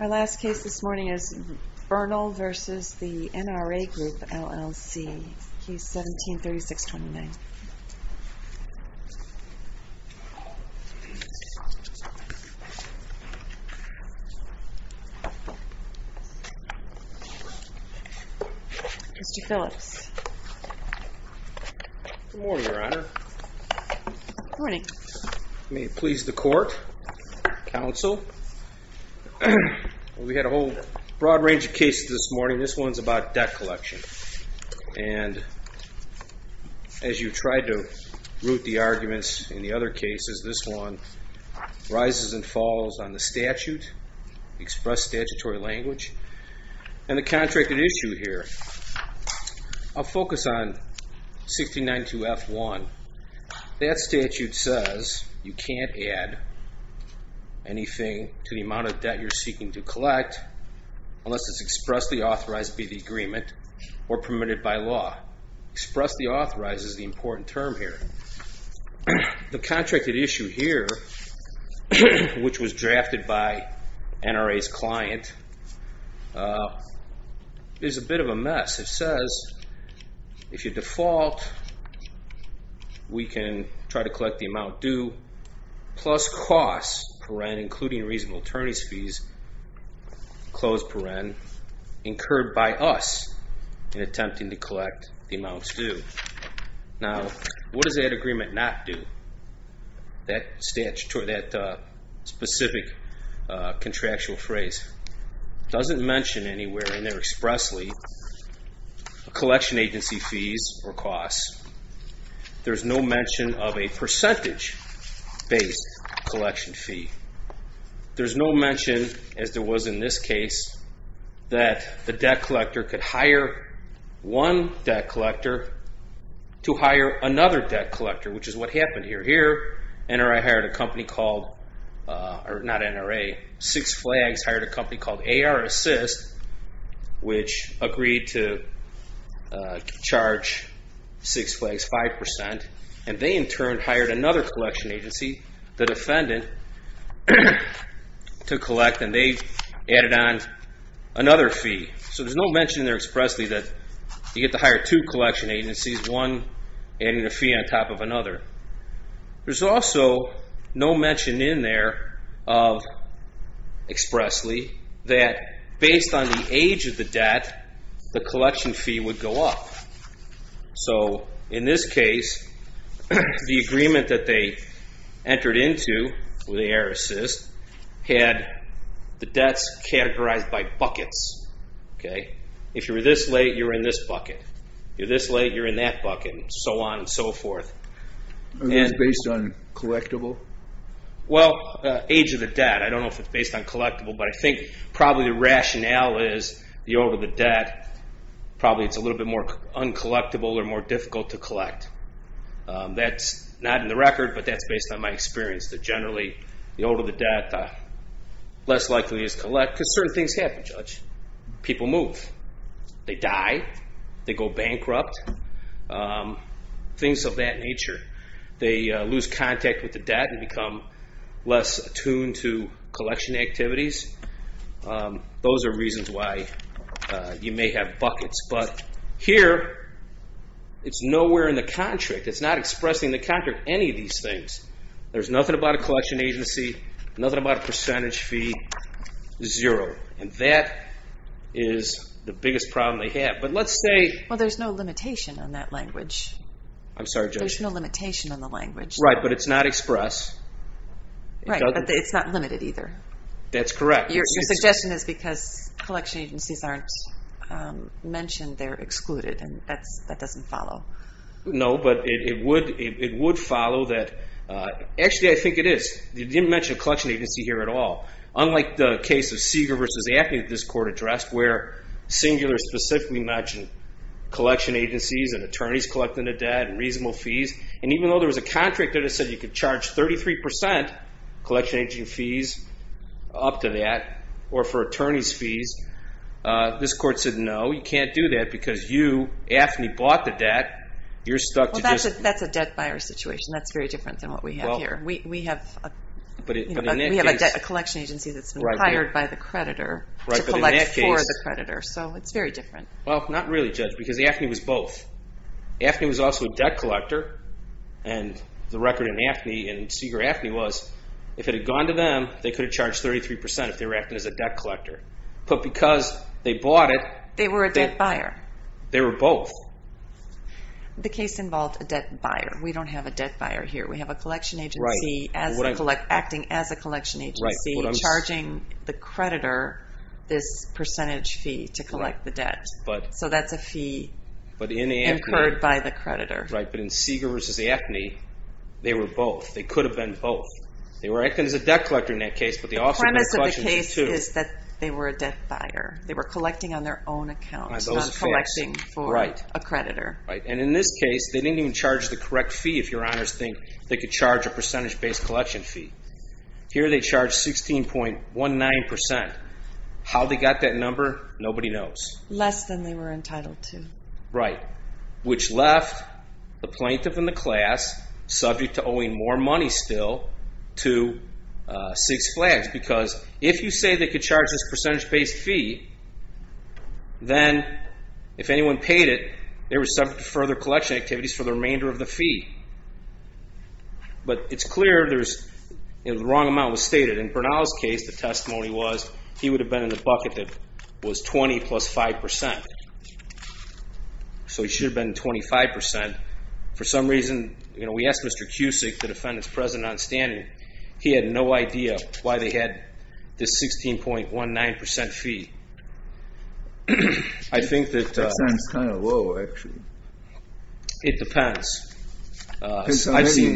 Our last case this morning is Bernal v. NRA Group, LLC, Case 17-3629. Mr. Phillips. Good morning, Your Honor. Good morning. May it please the court, counsel. We had a whole broad range of cases this morning. This one's about debt collection. And as you tried to root the arguments in the other cases, this one rises and falls on the statute, express statutory language, and the contracted issue here. I'll focus on 1692F1. That statute says you can't add anything to the amount of debt you're seeking to collect unless it's expressly authorized to be the agreement or permitted by law. Expressly authorized is the important term here. The contracted issue here, which was drafted by NRA's client, is a bit of a mess. It says, if you default, we can try to collect the amount due plus costs, including reasonable attorney's fees, incurred by us in attempting to collect the amount due. Now, what does that agreement not do? That specific contractual phrase doesn't mention anywhere in there expressly collection agency fees or costs. There's no mention of a percentage-based collection fee. There's no mention, as there was in this case, that the debt collector could hire one debt collector to hire another debt collector, which is what happened here. Here, NRA hired a company called, or not NRA, Six Flags hired a company called AR Assist, which agreed to charge Six Flags 5%, and they, in turn, hired another collection agency, the defendant, to collect, and they added on another fee. So there's no mention in there expressly that you get to hire two collection agencies, one adding a fee on top of another. There's also no mention in there expressly that, based on the age of the debt, the collection fee would go up. So in this case, the agreement that they entered into with AR Assist had the debts categorized by buckets. If you were this late, you were in this bucket. If you were this late, you were in that bucket, and so on and so forth. Are those based on collectible? Well, age of the debt, I don't know if it's based on collectible, but I think probably the rationale is the older the debt, probably it's a little bit more uncollectible or more difficult to collect. That's not in the record, but that's based on my experience, that generally the older the debt, less likely to just collect, because certain things happen, Judge. People move. They die. They go bankrupt, things of that nature. They lose contact with the debt and become less attuned to collection activities. Those are reasons why you may have buckets. But here, it's nowhere in the contract. It's not expressing in the contract any of these things. There's nothing about a collection agency, nothing about a percentage fee, zero. That is the biggest problem they have. Well, there's no limitation on that language. I'm sorry, Judge. There's no limitation on the language. Right, but it's not express. Right, but it's not limited either. That's correct. Your suggestion is because collection agencies aren't mentioned, they're excluded, and that doesn't follow. No, but it would follow that. Actually, I think it is. You didn't mention a collection agency here at all. Unlike the case of Seeger v. AFNI that this court addressed where Singular specifically mentioned collection agencies and attorneys collecting the debt and reasonable fees, and even though there was a contract that said you could charge 33% collection agency fees up to that or for attorneys' fees, this court said no, you can't do that because you, AFNI, bought the debt. That's a debt buyer situation. That's very different than what we have here. We have a collection agency that's been hired by the creditor to collect for the creditor, so it's very different. Well, not really, Judge, because AFNI was both. AFNI was also a debt collector, and the record in AFNI and Seeger AFNI was if it had gone to them, they could have charged 33% if they were acting as a debt collector. But because they bought it, they were both. The case involved a debt buyer. We don't have a debt buyer here. We have a collection agency acting as a collection agency, charging the creditor this percentage fee to collect the debt. So that's a fee incurred by the creditor. Right, but in Seeger versus AFNI, they were both. They could have been both. They were acting as a debt collector in that case, but they also did collections in two. The premise of the case is that they were a debt buyer. They were collecting on their own account, not collecting for a creditor. Right, and in this case, they didn't even charge the correct fee, if your honors think they could charge a percentage-based collection fee. Here they charged 16.19%. How they got that number, nobody knows. Less than they were entitled to. Right, which left the plaintiff and the class, subject to owing more money still, to Six Flags, because if you say they could charge this percentage-based fee, then if anyone paid it, they were subject to further collection activities for the remainder of the fee. But it's clear the wrong amount was stated. In Bernal's case, the testimony was he would have been in the bucket that was 20 plus 5%. So he should have been 25%. For some reason, we asked Mr. Cusick, the defendant's president on standing. He had no idea why they had this 16.19% fee. That sounds kind of low, actually. It depends. I've seen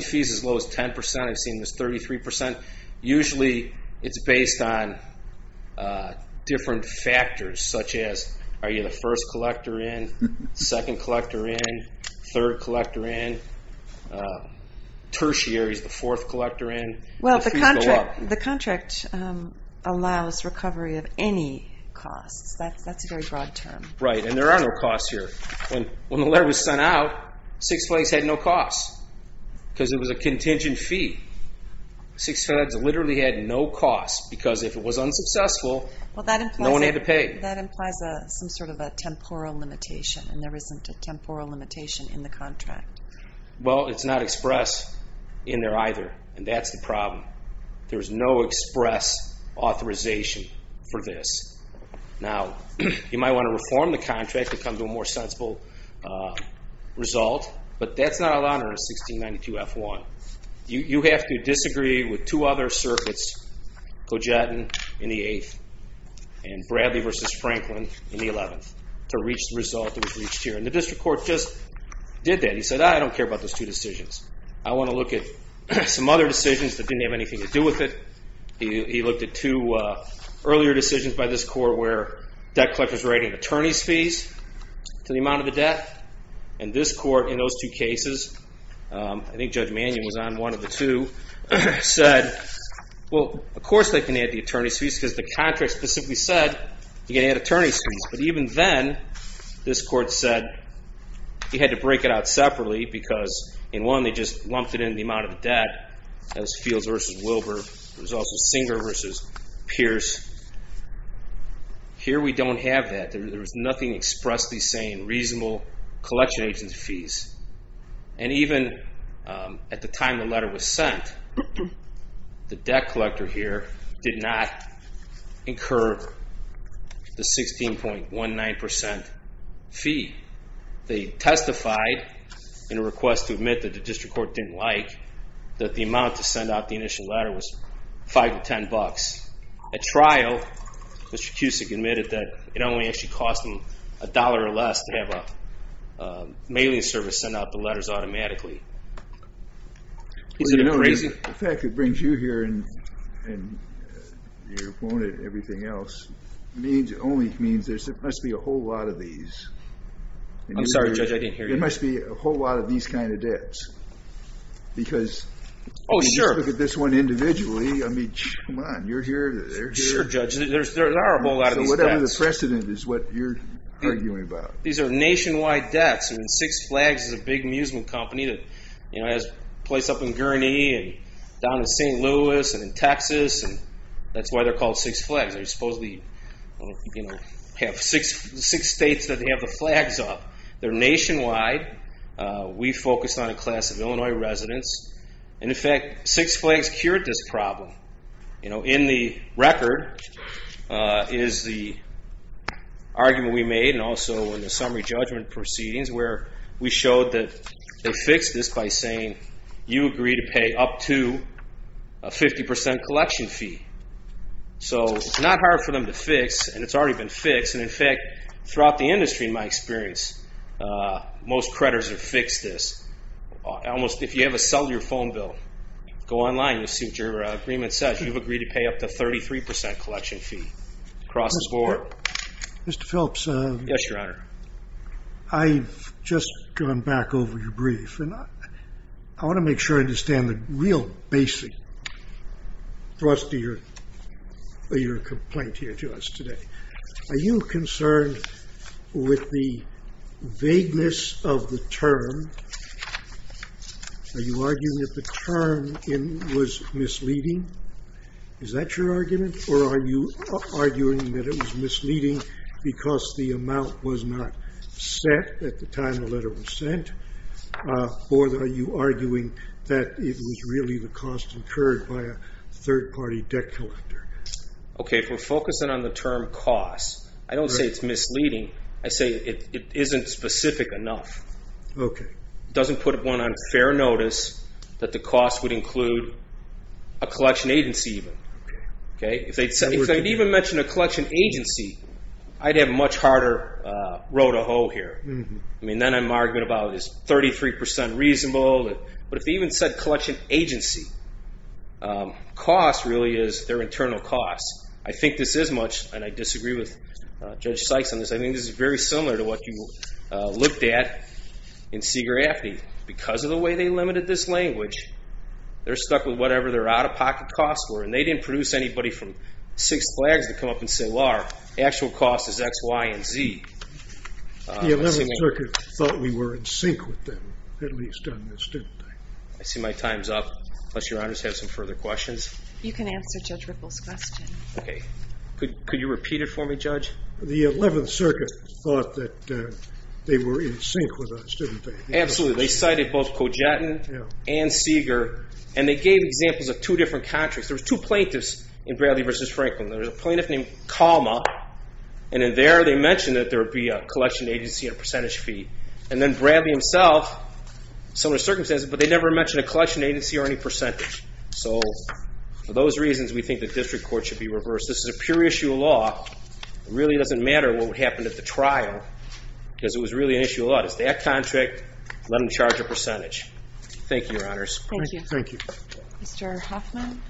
fees as low as 10%. I've seen this 33%. Usually it's based on different factors, such as are you the first collector in, second collector in, third collector in, tertiary is the fourth collector in. The contract allows recovery of any costs. That's a very broad term. Right, and there are no costs here. When the letter was sent out, Six Flags had no costs because it was a contingent fee. Six Flags literally had no costs because if it was unsuccessful, no one had to pay. That implies some sort of a temporal limitation, and there isn't a temporal limitation in the contract. Well, it's not expressed in there either, and that's the problem. There's no express authorization for this. Now, you might want to reform the contract to come to a more sensible result, but that's not allowed under 1692F1. You have to disagree with two other circuits, Cogettan in the 8th and Bradley v. Franklin in the 11th, to reach the result that was reached here. The district court just did that. He said, I don't care about those two decisions. I want to look at some other decisions that didn't have anything to do with it. He looked at two earlier decisions by this court where debt collectors were adding attorney's fees to the amount of the debt, and this court in those two cases, I think Judge Mannion was on one of the two, said, well, of course they can add the attorney's fees because the contract specifically said you can add attorney's fees, but even then this court said you had to break it out separately because in one they just lumped it in the amount of the debt, that was Fields v. Wilbur. There was also Singer v. Pierce. Here we don't have that. There was nothing expressly saying reasonable collection agent's fees, and even at the time the letter was sent, the debt collector here did not incur the 16.19% fee. They testified in a request to admit that the district court didn't like that the amount to send out the initial letter was $5 to $10. At trial, Mr. Cusick admitted that it only actually cost him $1 or less to have a mailing service send out the letters automatically. The fact that it brings you here and your opponent and everything else only means there must be a whole lot of these. I'm sorry, Judge, I didn't hear you. There must be a whole lot of these kind of debts because if you look at this one individually, I mean, come on, you're here, they're here. Sure, Judge, there are a whole lot of these debts. Whatever the precedent is what you're arguing about. These are nationwide debts. Six Flags is a big amusement company that has a place up in Gurnee and down in St. Louis and in Texas. That's why they're called Six Flags. They supposedly have six states that have the flags up. They're nationwide. We focus on a class of Illinois residents. In fact, Six Flags cured this problem. In the record is the argument we made and also in the summary judgment proceedings where we showed that they fixed this by saying, you agree to pay up to a 50% collection fee. So it's not hard for them to fix, and it's already been fixed. In fact, throughout the industry, in my experience, most creditors have fixed this. If you have a cellular phone bill, go online, you'll see what your agreement says. You've agreed to pay up to a 33% collection fee across the board. Mr. Phillips? Yes, Your Honor. I've just gone back over your brief, and I want to make sure I understand the real basic thrust of your complaint here to us today. Are you concerned with the vagueness of the term? Are you arguing that the term was misleading? Is that your argument? Or are you arguing that it was misleading because the amount was not set at the time the letter was sent? Or are you arguing that it was really the cost incurred by a third-party debt collector? Okay, if we're focusing on the term cost, I don't say it's misleading. I say it isn't specific enough. Okay. It doesn't put one on fair notice that the cost would include a collection agency even. Okay. If they'd even mentioned a collection agency, I'd have a much harder row to hoe here. I mean, then I'm arguing about is 33% reasonable. But if they even said collection agency, cost really is their internal cost. I think this is much, and I disagree with Judge Sykes on this, I think this is very similar to what you looked at in Seager-Affney. Because of the way they limited this language, they're stuck with whatever their out-of-pocket costs were, and they didn't produce anybody from Six Flags to come up and say, well, our actual cost is X, Y, and Z. The 11th Circuit thought we were in sync with them, at least on this, didn't they? I see my time's up. Unless Your Honors have some further questions. You can answer Judge Ripple's question. Okay. Could you repeat it for me, Judge? The 11th Circuit thought that they were in sync with us, didn't they? Absolutely. They cited both Cogettan and Seager, and they gave examples of two different contracts. There were two plaintiffs in Bradley v. Franklin. There was a plaintiff named Calma, and in there they mentioned that there would be a collection agency and a percentage fee. And then Bradley himself, similar circumstances, but they never mentioned a collection agency or any percentage. So for those reasons, we think the district court should be reversed. This is a pure issue of law. It really doesn't matter what happened at the trial, because it was really an issue of law. It's that contract, let them charge a percentage. Thank you, Your Honors. Thank you. Thank you. Mr. Hoffman?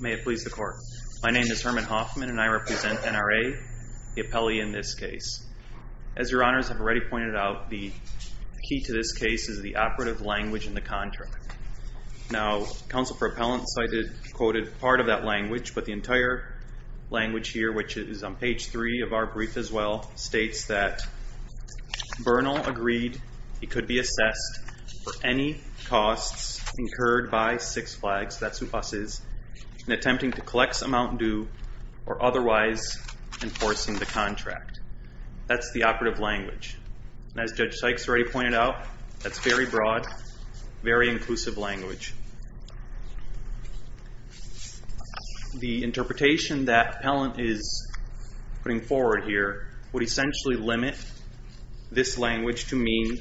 May it please the Court. My name is Herman Hoffman, and I represent NRA, the appellee in this case. As Your Honors have already pointed out, the key to this case is the operative language in the contract. Now, counsel for appellant cited, quoted part of that language, but the entire language here, which is on page 3 of our brief as well, states that Bernal agreed he could be assessed for any costs incurred by Six Flags, that's who US is, in attempting to collect some amount due or otherwise enforcing the contract. That's the operative language. And as Judge Sykes already pointed out, that's very broad, very inclusive language. The interpretation that appellant is putting forward here would essentially limit this language to mean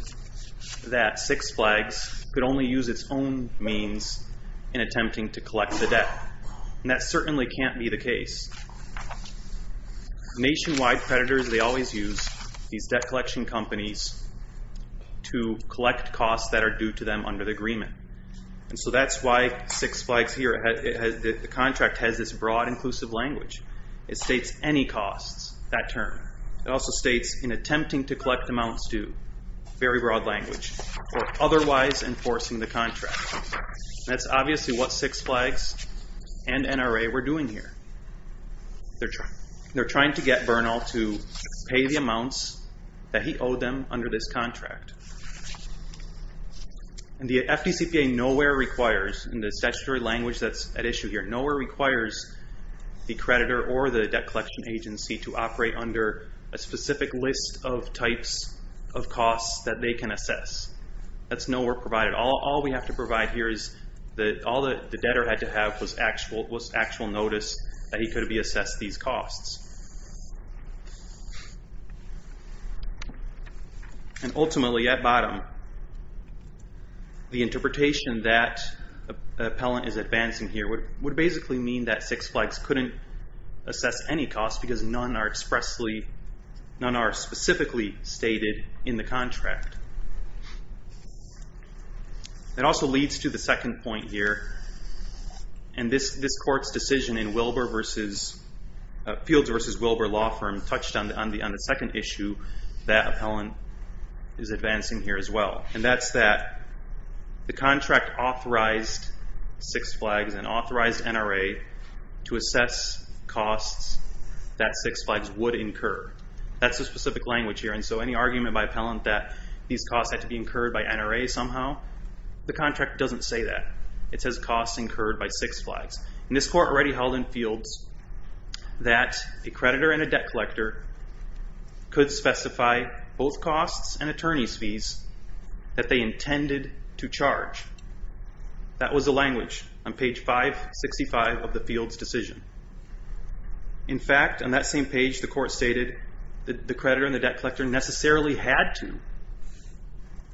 that Six Flags could only use its own means in attempting to collect the debt. And that certainly can't be the case. Nationwide creditors, they always use these debt collection companies to collect costs that are due to them under the agreement. And so that's why Six Flags here, the contract has this broad, inclusive language. It states any costs, that term. It also states in attempting to collect amounts due, very broad language, or otherwise enforcing the contract. That's obviously what Six Flags and NRA were doing here. They're trying to get Bernal to pay the amounts that he owed them under this contract. And the FDCPA nowhere requires, in the statutory language that's at issue here, nowhere requires the creditor or the debt collection agency to operate under a specific list of types of costs that they can assess. That's nowhere provided. All we have to provide here is that all the debtor had to have was actual notice that he could be assessed these costs. And ultimately, at bottom, the interpretation that appellant is advancing here would basically mean that Six Flags couldn't assess any costs because none are expressly, none are specifically stated in the contract. It also leads to the second point here, and this court's decision in Wilber v. Fields' Wilber law firm touched on the second issue that appellant is advancing here as well, and that's that the contract authorized Six Flags and authorized NRA to assess costs that Six Flags would incur. That's the specific language here, and so any argument by appellant that these costs had to be incurred by NRA somehow, the contract doesn't say that. It says costs incurred by Six Flags. And this court already held in Fields that a creditor and a debt collector could specify both costs and attorney's fees that they intended to charge. That was the language on page 565 of the Fields' decision. In fact, on that same page, the court stated that the creditor and the debt collector necessarily had to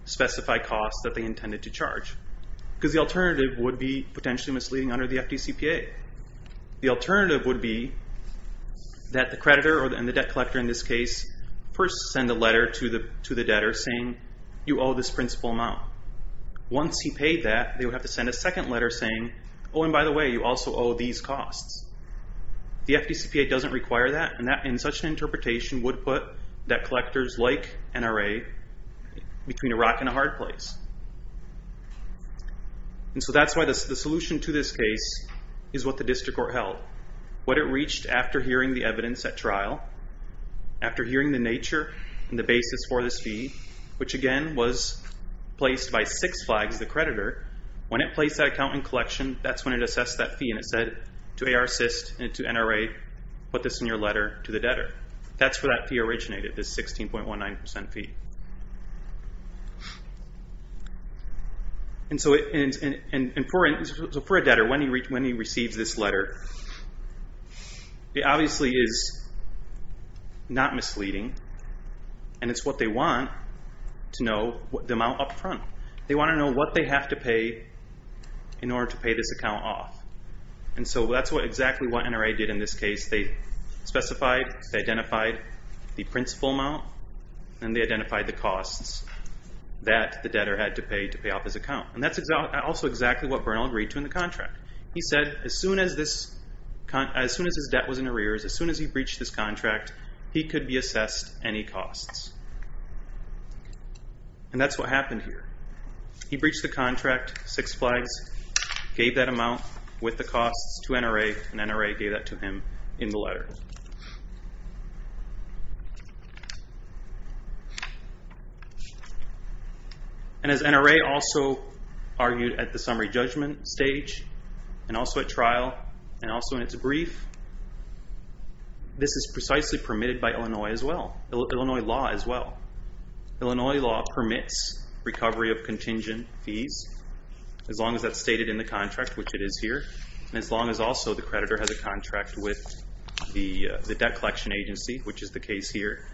specify costs that they intended to charge because the alternative would be potentially misleading under the FDCPA. The alternative would be that the creditor and the debt collector in this case first send a letter to the debtor saying, you owe this principal amount. Once he paid that, they would have to send a second letter saying, oh, and by the way, you also owe these costs. The FDCPA doesn't require that, and such an interpretation would put debt collectors like NRA between a rock and a hard place. And so that's why the solution to this case is what the district court held. What it reached after hearing the evidence at trial, after hearing the nature and the basis for this fee, which again was placed by Six Flags, the creditor, when it placed that account in collection, that's when it assessed that fee and it said to AR assist and to NRA, put this in your letter to the debtor. That's where that fee originated, this 16.19% fee. And so for a debtor, when he receives this letter, it obviously is not misleading, and it's what they want to know the amount up front. They want to know what they have to pay in order to pay this account off. And so that's exactly what NRA did in this case. They specified, they identified the principal amount, and they identified the costs that the debtor had to pay to pay off his account. And that's also exactly what Bernal agreed to in the contract. He said as soon as his debt was in arrears, as soon as he breached this contract, he could be assessed any costs. And that's what happened here. He breached the contract, Six Flags gave that amount with the costs to NRA, and NRA gave that to him in the letter. And as NRA also argued at the summary judgment stage, and also at trial, and also in its brief, this is precisely permitted by Illinois as well, Illinois law as well. Illinois law permits recovery of contingent fees, as long as that's stated in the contract, which it is here, and as long as also the creditor has a contract with the debt collection agency, which is the case here.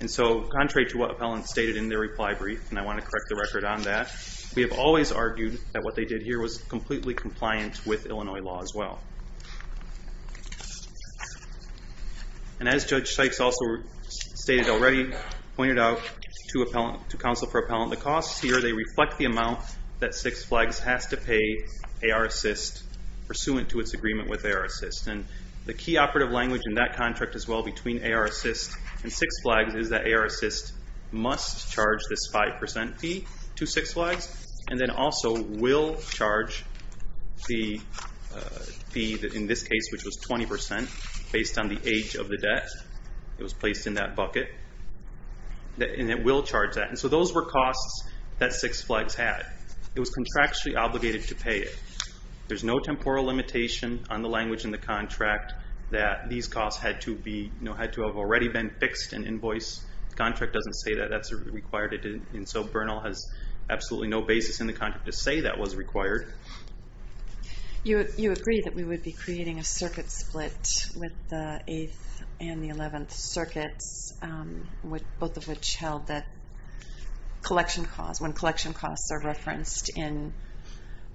And so contrary to what appellants stated in their reply brief, and I want to correct the record on that, we have always argued that what they did here was completely compliant with Illinois law as well. And as Judge Sykes also stated already, pointed out to counsel for appellant, the costs here, they reflect the amount that Six Flags has to pay AR Assist pursuant to its agreement with AR Assist. And the key operative language in that contract as well between AR Assist and Six Flags is that AR Assist must charge this 5% fee to Six Flags, and then also will charge the fee, in this case, which was 20%, based on the age of the debt that was placed in that bucket, and it will charge that. And so those were costs that Six Flags had. It was contractually obligated to pay it. There's no temporal limitation on the language in the contract that these costs had to have already been fixed in invoice. The contract doesn't say that that's required, and so Bernal has absolutely no basis in the contract to say that was required. You agree that we would be creating a circuit split with the 8th and the 11th circuits, both of which held that collection costs, are referenced in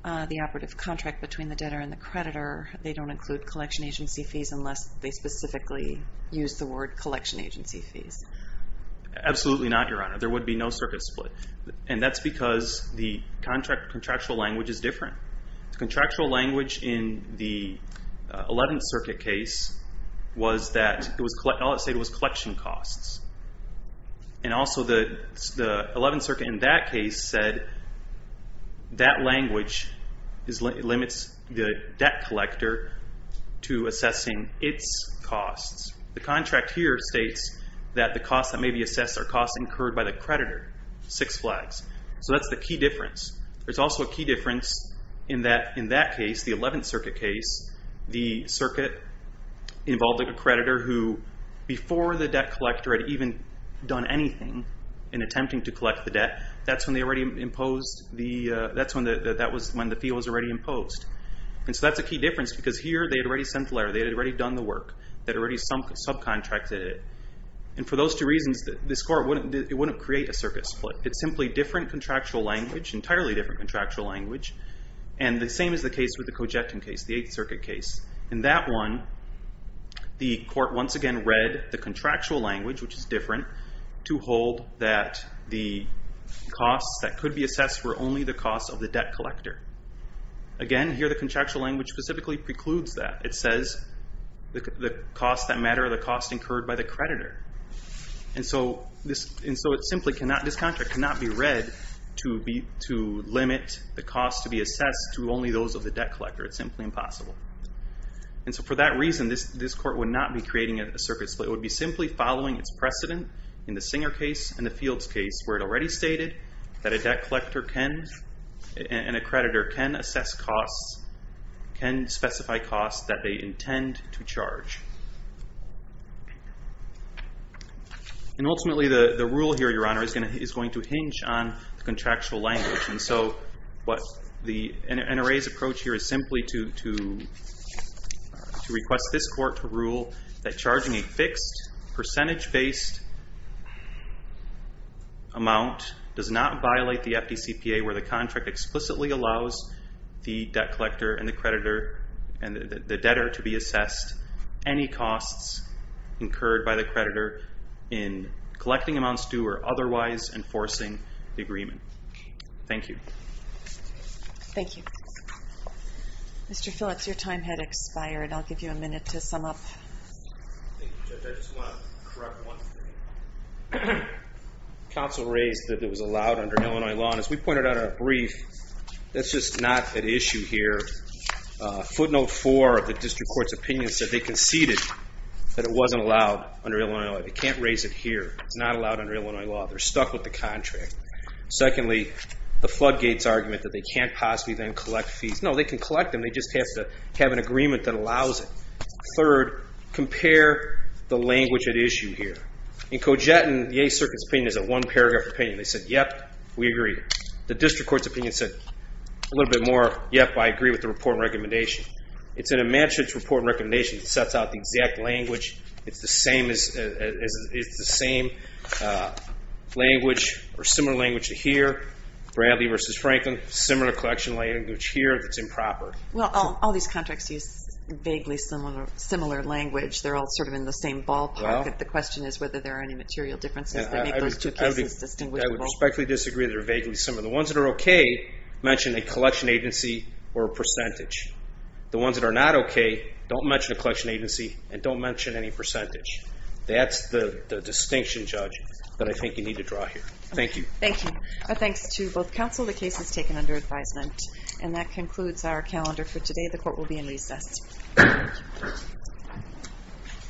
the operative contract between the debtor and the creditor. They don't include collection agency fees unless they specifically use the word collection agency fees. Absolutely not, Your Honor. There would be no circuit split, and that's because the contractual language is different. The contractual language in the 11th circuit case was that all it said was collection costs. And also the 11th circuit in that case said that language limits the debt collector to assessing its costs. The contract here states that the costs that may be assessed are costs incurred by the creditor, Six Flags. So that's the key difference. There's also a key difference in that case, the 11th circuit case. The circuit involved a creditor who, before the debt collector had even done anything in attempting to collect the debt, that's when the fee was already imposed. And so that's a key difference because here they had already sent the letter. They had already done the work. They had already subcontracted it. And for those two reasons, this court wouldn't create a circuit split. It's simply different contractual language, entirely different contractual language, and the same is the case with the Cojectin case, the 8th circuit case. In that one, the court once again read the contractual language, which is different, to hold that the costs that could be assessed were only the costs of the debt collector. Again, here the contractual language specifically precludes that. It says the costs that matter are the costs incurred by the creditor. And so this contract cannot be read to limit the costs to be assessed to only those of the debt collector. It's simply impossible. And so for that reason, this court would not be creating a circuit split. It would be simply following its precedent in the Singer case and the Fields case where it already stated that a debt collector and a creditor can assess costs, can specify costs that they intend to charge. And ultimately, the rule here, Your Honor, is going to hinge on the contractual language. And so NRA's approach here is simply to request this court to rule that charging a fixed percentage-based amount does not violate the FDCPA where the contract explicitly allows the debt collector and the creditor and the debtor to be assessed any costs incurred by the creditor in collecting amounts due or otherwise enforcing the agreement. Thank you. Thank you. Mr. Phillips, your time had expired. I'll give you a minute to sum up. Thank you, Judge. I just want to correct one thing. The counsel raised that it was allowed under Illinois law. And as we pointed out in our brief, that's just not at issue here. Footnote 4 of the district court's opinion said they conceded that it wasn't allowed under Illinois law. They can't raise it here. It's not allowed under Illinois law. They're stuck with the contract. Secondly, the floodgates argument that they can't possibly then collect fees. No, they can collect them. They just have to have an agreement that allows it. Third, compare the language at issue here. In Cogettan, the 8th Circuit's opinion is a one-paragraph opinion. They said, yep, we agree. The district court's opinion said a little bit more, yep, I agree with the report and recommendation. It's an immanent report and recommendation that sets out the exact language. It's the same language or similar language here, Bradley versus Franklin, similar collection language here that's improper. Well, all these contracts use vaguely similar language. They're all sort of in the same ballpark. The question is whether there are any material differences that make those two cases distinguishable. I would respectfully disagree that they're vaguely similar. The ones that are okay mention a collection agency or a percentage. The ones that are not okay don't mention a collection agency and don't mention any percentage. That's the distinction, Judge, that I think you need to draw here. Thank you. Thank you. Thanks to both counsel. The case is taken under advisement. And that concludes our calendar for today. The court will be in recess.